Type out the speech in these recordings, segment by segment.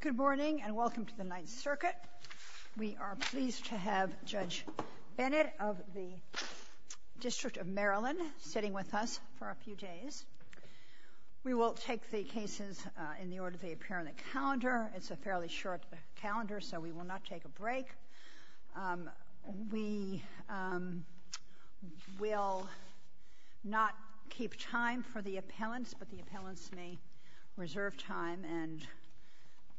Good morning and welcome to the Ninth Circuit. We are pleased to have Judge Bennett of the District of Maryland sitting with us for a few days. We will take the cases in the order they appear on the calendar. It's a fairly short calendar so we will not take a break. We will not keep time for the appellants but the appellants may reserve time and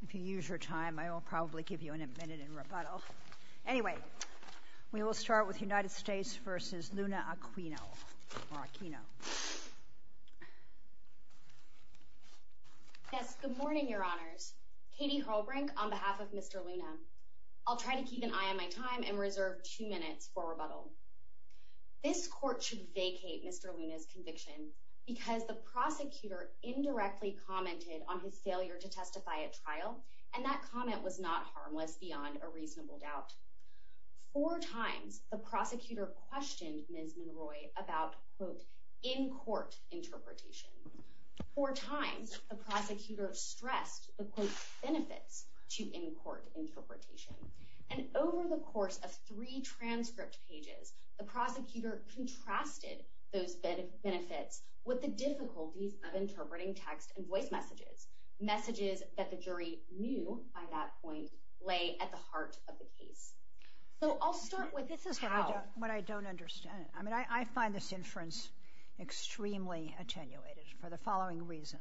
if you use your time I will probably give you a minute in rebuttal. Anyway, we will start with United in your honors, Katie Harlbrink on behalf of Mr. Luna. I'll try to keep an eye on my time and reserve two minutes for rebuttal. This court should vacate Mr. Luna's conviction because the prosecutor indirectly commented on his failure to testify at trial and that comment was not harmless beyond a reasonable doubt. Four times the prosecutor questioned Ms. Monroy about quote in-court interpretation. Four times the prosecutor stressed the quote benefits to in-court interpretation and over the course of three transcript pages the prosecutor contrasted those benefits with the difficulties of interpreting text and voice messages. Messages that the jury knew by that point lay at the heart of the case. So I'll start with this is what I don't understand. I mean I extremely attenuated for the following reason.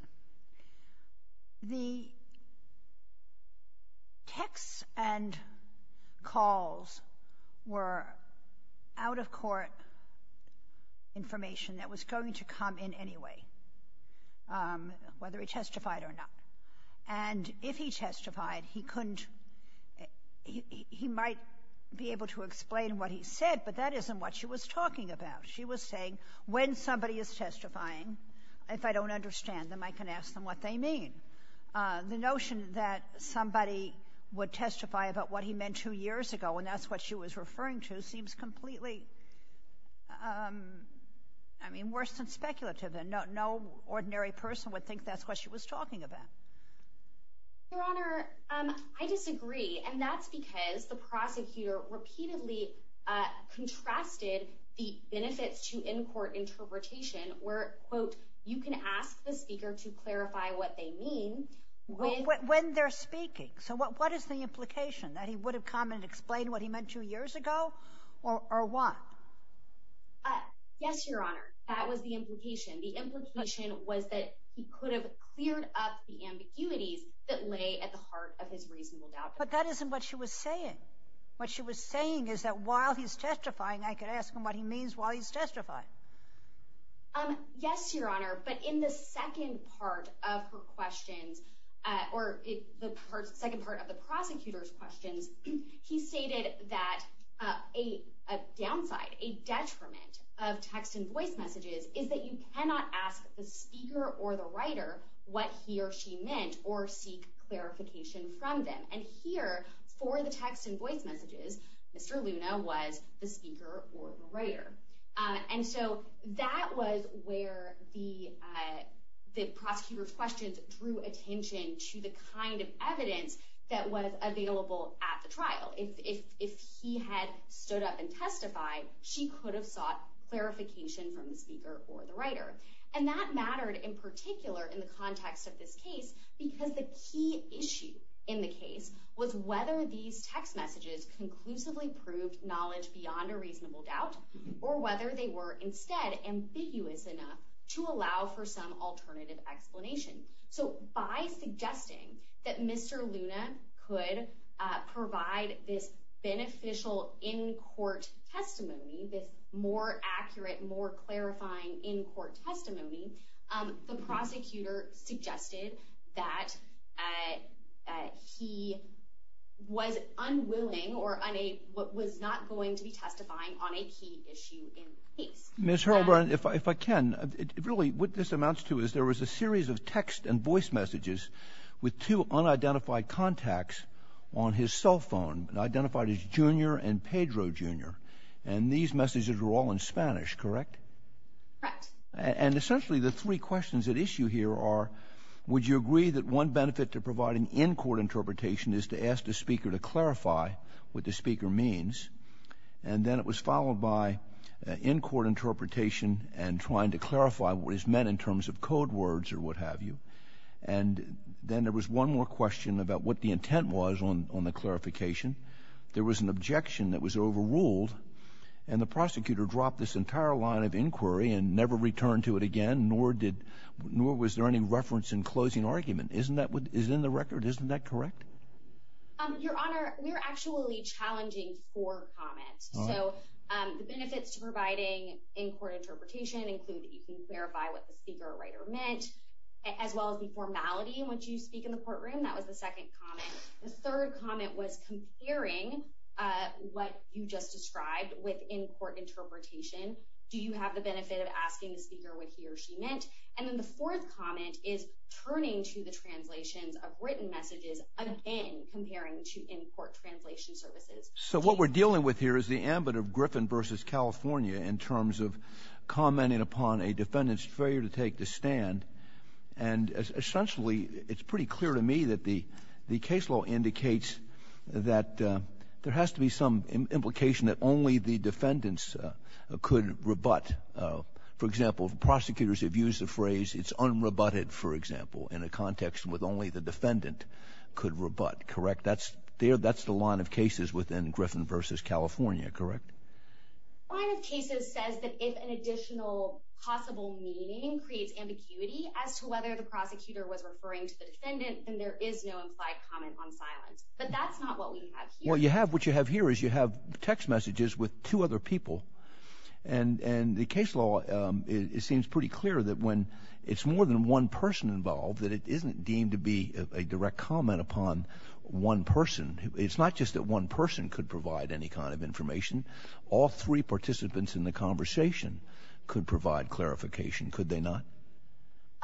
The texts and calls were out-of-court information that was going to come in anyway whether he testified or not and if he testified he couldn't he might be able to explain what he said but that isn't what she was talking about. She was saying when somebody is testifying if I don't understand them I can ask them what they mean. The notion that somebody would testify about what he meant two years ago and that's what she was referring to seems completely I mean worse than speculative and no ordinary person would think that's what she was talking about. Your Honor, I disagree and that's because the prosecutor repeatedly contrasted the benefits to in-court interpretation where quote you can ask the speaker to clarify what they mean. When they're speaking so what what is the implication that he would have come and explained what he meant two years ago or what? Yes, Your Honor, that was the implication. The implication was that he could have cleared up the ambiguities that lay at the heart of his testimony. While he's testifying I could ask him what he means while he's testifying. Yes, Your Honor, but in the second part of her questions or the second part of the prosecutor's questions he stated that a downside, a detriment of text and voice messages is that you cannot ask the speaker or the writer what he or she meant or seek clarification from them and here for the text and voice messages Mr. Luna was the speaker or the writer and so that was where the the prosecutor's questions drew attention to the kind of evidence that was available at the trial. If he had stood up and testified she could have sought clarification from the speaker or the writer and that mattered in particular in the context of this case because the key issue in the case was whether these text messages conclusively proved knowledge beyond a reasonable doubt or whether they were instead ambiguous enough to allow for some alternative explanation. So by suggesting that Mr. Luna could provide this beneficial in-court testimony, this more was unwilling or was not going to be testifying on a key issue in the case. Ms. Hurlburn, if I can, really what this amounts to is there was a series of text and voice messages with two unidentified contacts on his cell phone identified as Junior and Pedro Junior and these messages were all in Spanish, correct? Correct. And essentially the three questions at issue here are would you agree that one benefit to providing in-court interpretation is to ask the speaker to clarify what the speaker means and then it was followed by in-court interpretation and trying to clarify what is meant in terms of code words or what have you and then there was one more question about what the intent was on the clarification. There was an objection that was overruled and the prosecutor dropped this entire line of inquiry and never returned to it again nor was there any reference in closing argument. Isn't that in the record? Isn't that correct? Your Honor, we are actually challenging four comments. So the benefits to providing in-court interpretation include that you can clarify what the speaker or writer meant as well as the formality in which you speak in the courtroom. That was the second comment. The third comment was comparing what you just described with in-court interpretation. Do you have the benefit of asking the speaker what he or she meant? And then the fourth comment is turning to the translations of written messages again comparing to in-court translation services. So what we're dealing with here is the ambit of Griffin v. California in terms of commenting upon a defendant's failure to take the stand and essentially it's pretty clear to me that the case law indicates that there has to be some implication that only the defendants could rebut. For example, prosecutors have used the phrase it's unrebutted, for example, in a context with only the defendant could rebut. Correct? That's the line of cases within Griffin v. California. Correct? The line of cases says that if an additional possible meaning creates ambiguity as to whether the prosecutor was referring to the defendant, then there is no implied comment on silence. But that's not what we have here. What you have here is you have text messages with two other people. And the case law, it seems pretty clear that when it's more than one person involved, that it isn't deemed to be a direct comment upon one person. It's not just that one person could provide any kind of information. All three participants in the conversation could provide clarification, could they not?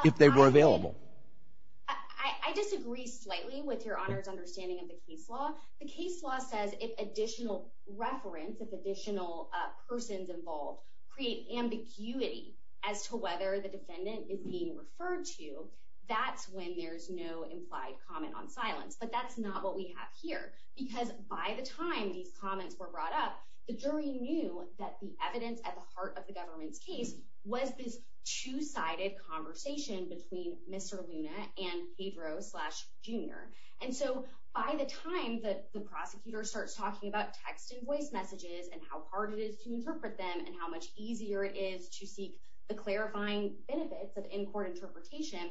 If they were available. I disagree slightly with Your Honor's understanding of the case law. The case law says if additional reference, if additional persons involved create ambiguity as to whether the defendant is being referred to, that's when there's no implied comment on silence. But that's not what we have here. Because by the time these comments were brought up, the jury knew that the evidence at the heart of the government's case was this two-sided conversation between Mr. Luna and Pedro Jr. And so by the time that the prosecutor starts talking about text and voice messages and how hard it is to interpret them and how much easier it is to seek the clarifying benefits of in-court interpretation,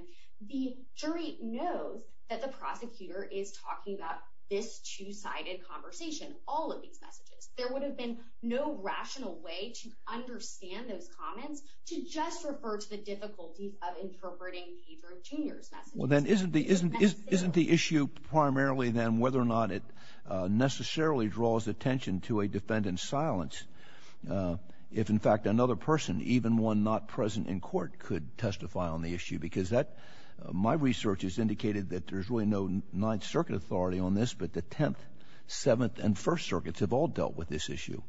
the jury knows that the prosecutor is talking about this two-sided conversation, all of these messages. There would have been no rational way to understand those comments to just refer to the difficulties of interpreting Pedro Jr.'s messages. Well, then isn't the issue primarily then whether or not it necessarily draws attention to a defendant's silence if in fact another person, even one not present in court, could testify on the issue? Because my research has indicated that there's really no Ninth Circuit authority on this, but the Tenth, Seventh, and First Circuits have all dealt with this issue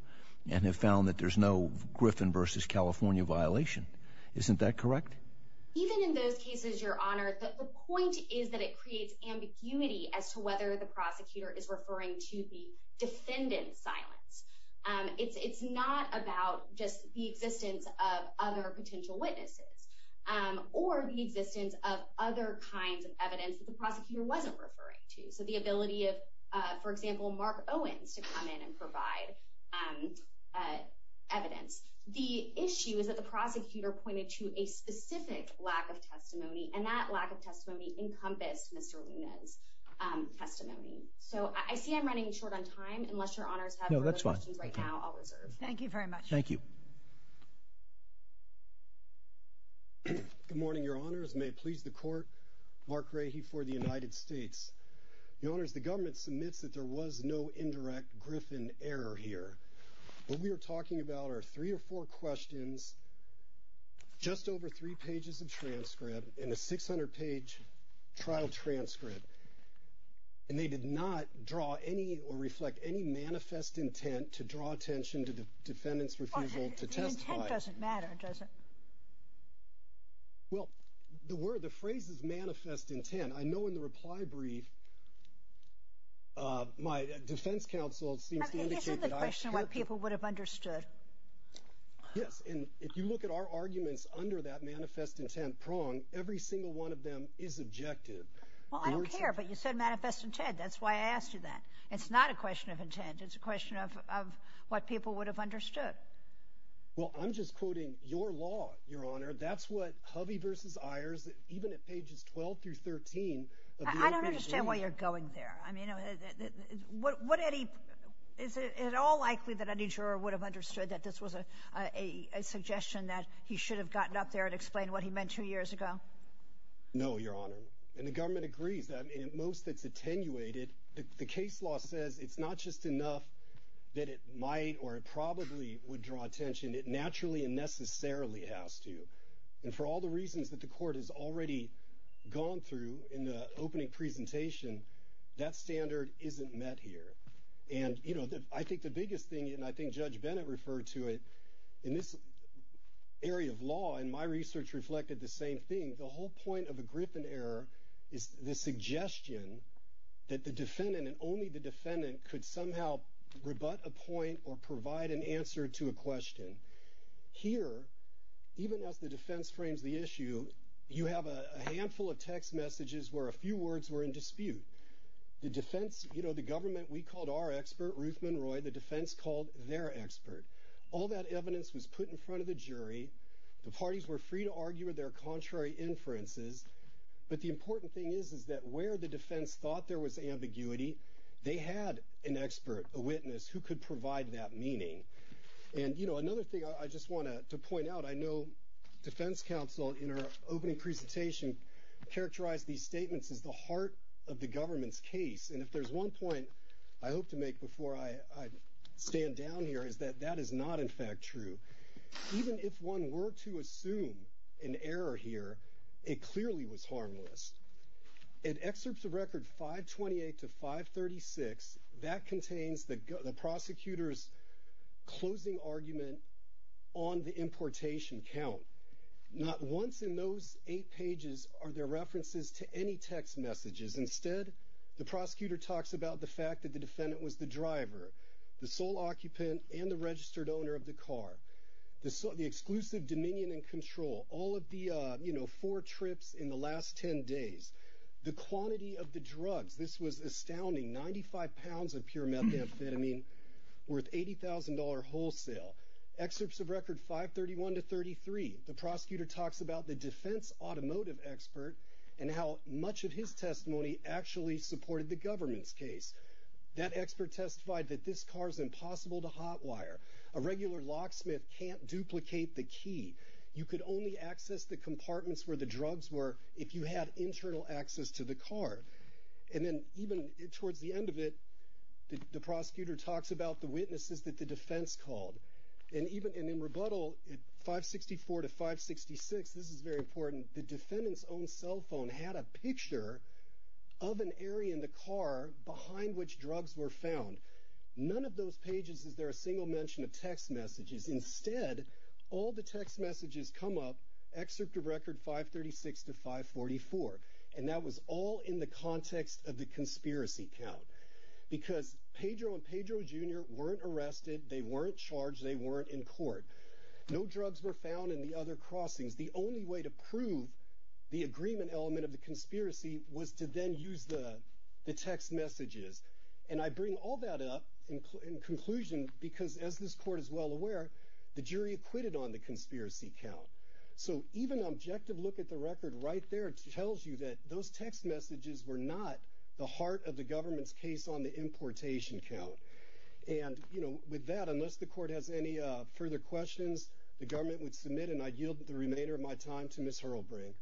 and have found that there's no Griffin v. California violation. Isn't that correct? Even in those cases, Your Honor, the point is that it creates ambiguity as to whether the prosecutor is referring to the defendant's silence. It's not about just the existence of other potential witnesses or the existence of other kinds of evidence that the prosecutor wasn't referring to, so the ability of, for example, Mark Owens to come in and provide evidence. The issue is that the prosecutor pointed to a specific lack of testimony, and that lack of testimony encompassed Mr. Luna's testimony. So I see I'm running short on time. Unless Your Honors have further questions right now, I'll reserve. Thank you very much. Thank you. Good morning, Your Honors. May it please the Court, Mark Rahe for the United States. Your Honors, the government submits that there was no indirect Griffin error here. What we are talking about are three or four questions, just over three pages of transcript, and a 600-page trial transcript, and they did not draw any or reflect any manifest intent to draw attention to the defendant's refusal to testify. But the intent doesn't matter, does it? Well, the word, the phrase is manifest intent. I know in the reply brief my defense counsel seems to indicate that I have kept it. Isn't the question what people would have understood? Yes, and if you look at our arguments under that manifest intent prong, every single one of them is objective. Well, I don't care, but you said manifest intent. It's not a question of intent. It's a question of what people would have understood. Well, I'm just quoting your law, Your Honor. That's what Hovey v. Ayers, even at pages 12 through 13. I don't understand why you're going there. I mean, is it at all likely that any juror would have understood that this was a suggestion that he should have gotten up there and explained what he meant two years ago? No, Your Honor, and the government agrees. I mean, at most it's attenuated. The case law says it's not just enough that it might or it probably would draw attention. It naturally and necessarily has to. And for all the reasons that the court has already gone through in the opening presentation, that standard isn't met here. And, you know, I think the biggest thing, and I think Judge Bennett referred to it, in this area of law, and my research reflected the same thing, I think the whole point of a Griffin error is the suggestion that the defendant and only the defendant could somehow rebut a point or provide an answer to a question. Here, even as the defense frames the issue, you have a handful of text messages where a few words were in dispute. The defense, you know, the government, we called our expert, Ruth Monroy, the defense called their expert. All that evidence was put in front of the jury. The parties were free to argue with their contrary inferences. But the important thing is, is that where the defense thought there was ambiguity, they had an expert, a witness, who could provide that meaning. And, you know, another thing I just want to point out, I know defense counsel in our opening presentation characterized these statements as the heart of the government's case. And if there's one point I hope to make before I stand down here, is that that is not, in fact, true. Even if one were to assume an error here, it clearly was harmless. In excerpts of record 528 to 536, that contains the prosecutor's closing argument on the importation count. Not once in those eight pages are there references to any text messages. Instead, the prosecutor talks about the fact that the defendant was the driver, the sole occupant, and the registered owner of the car. The exclusive dominion and control. All of the, you know, four trips in the last ten days. The quantity of the drugs. This was astounding. 95 pounds of pure methamphetamine worth $80,000 wholesale. Excerpts of record 531 to 533, the prosecutor talks about the defense automotive expert and how much of his testimony actually supported the government's case. That expert testified that this car is impossible to hotwire. A regular locksmith can't duplicate the key. You could only access the compartments where the drugs were if you had internal access to the car. And then even towards the end of it, the prosecutor talks about the witnesses that the defense called. And even in rebuttal, 564 to 566, this is very important, the defendant's own cell phone had a picture of an area in the car behind which drugs were found. None of those pages is there a single mention of text messages. Instead, all the text messages come up, excerpt of record 536 to 544. And that was all in the context of the conspiracy count. Because Pedro and Pedro Jr. weren't arrested, they weren't charged, they weren't in court. No drugs were found in the other crossings. The only way to prove the agreement element of the conspiracy was to then use the text messages. And I bring all that up in conclusion because, as this court is well aware, the jury acquitted on the conspiracy count. So even an objective look at the record right there tells you that those text messages were not the heart of the government's case on the importation count. And, you know, with that, unless the court has any further questions, the government would submit, and I yield the remainder of my time to Ms. Hurlbrink.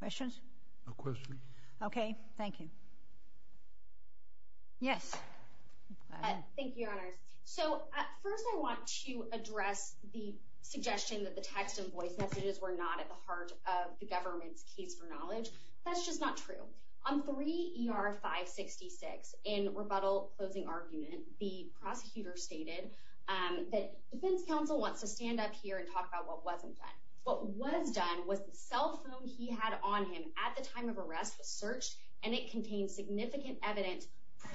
Questions? No questions. Okay, thank you. Yes. Thank you, Your Honors. So first I want to address the suggestion that the text and voice messages were not at the heart of the government's case for knowledge. That's just not true. On 3 ER 566, in rebuttal closing argument, the prosecutor stated that defense counsel wants to stand up here and talk about what wasn't done. What was done was the cell phone he had on him at the time of arrest was searched, and it contained significant evidence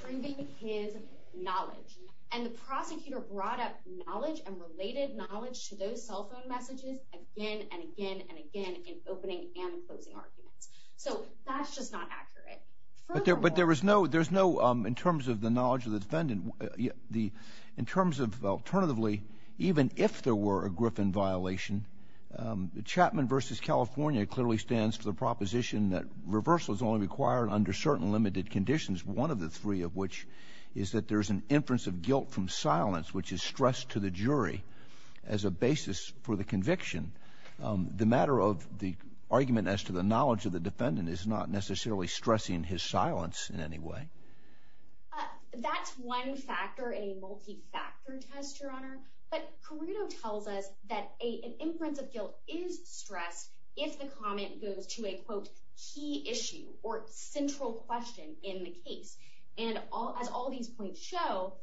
proving his knowledge. And the prosecutor brought up knowledge and related knowledge to those cell phone messages again and again and again in opening and closing arguments. So that's just not accurate. But there was no – there's no – in terms of the knowledge of the defendant, in terms of alternatively, even if there were a Griffin violation, Chapman v. California clearly stands to the proposition that reversal is only required under certain limited conditions, one of the three of which is that there's an inference of guilt from silence which is stressed to the jury as a basis for the conviction. The matter of the argument as to the knowledge of the defendant is not necessarily stressing his silence in any way. That's one factor in a multi-factor test, Your Honor. But Carruto tells us that an inference of guilt is stressed if the comment goes to a, quote, key issue or central question in the case. And as all these points show,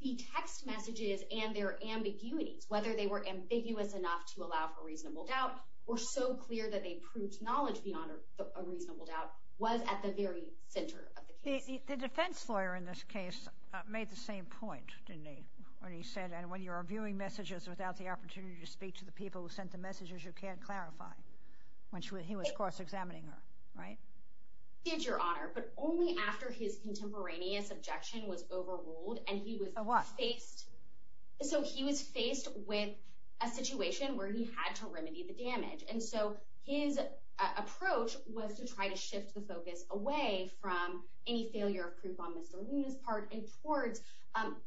the text messages and their ambiguities, whether they were ambiguous enough to allow for reasonable doubt or so clear that they proved knowledge beyond a reasonable doubt, was at the very center of the case. The defense lawyer in this case made the same point, didn't he, when he said, and when you're viewing messages without the opportunity to speak to the people who sent the messages, you can't clarify, when he was cross-examining her, right? He did, Your Honor, but only after his contemporaneous objection was overruled. So what? So he was faced with a situation where he had to remedy the damage, and so his approach was to try to shift the focus away from any failure of proof on Mr. Luna's part and towards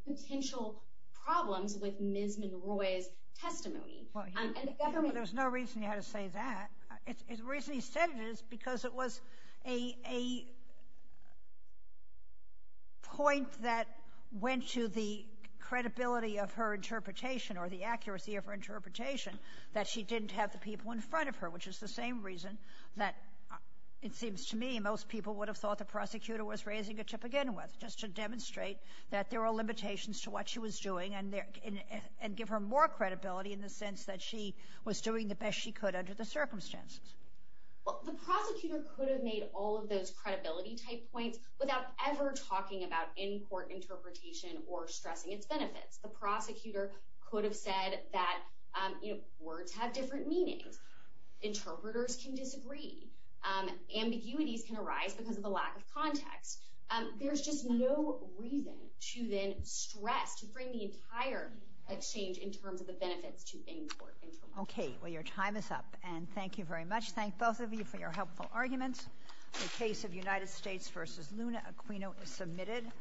potential problems with Ms. Monroy's testimony. There's no reason you had to say that. The reason he said it is because it was a point that went to the credibility of her interpretation or the accuracy of her interpretation that she didn't have the people in front of her, which is the same reason that it seems to me most people would have thought the prosecutor was raising it to begin with, just to demonstrate that there were limitations to what she was doing and give her more credibility in the sense that she was doing the best she could under the circumstances. Well, the prosecutor could have made all of those credibility-type points without ever talking about in-court interpretation or stressing its benefits. The prosecutor could have said that words have different meanings. Interpreters can disagree. Ambiguities can arise because of the lack of context. There's just no reason to then stress, to bring the entire exchange in terms of the benefits to in-court interpretation. Okay. Well, your time is up, and thank you very much. Thank both of you for your helpful arguments. The case of United States v. Luna Aquino is submitted.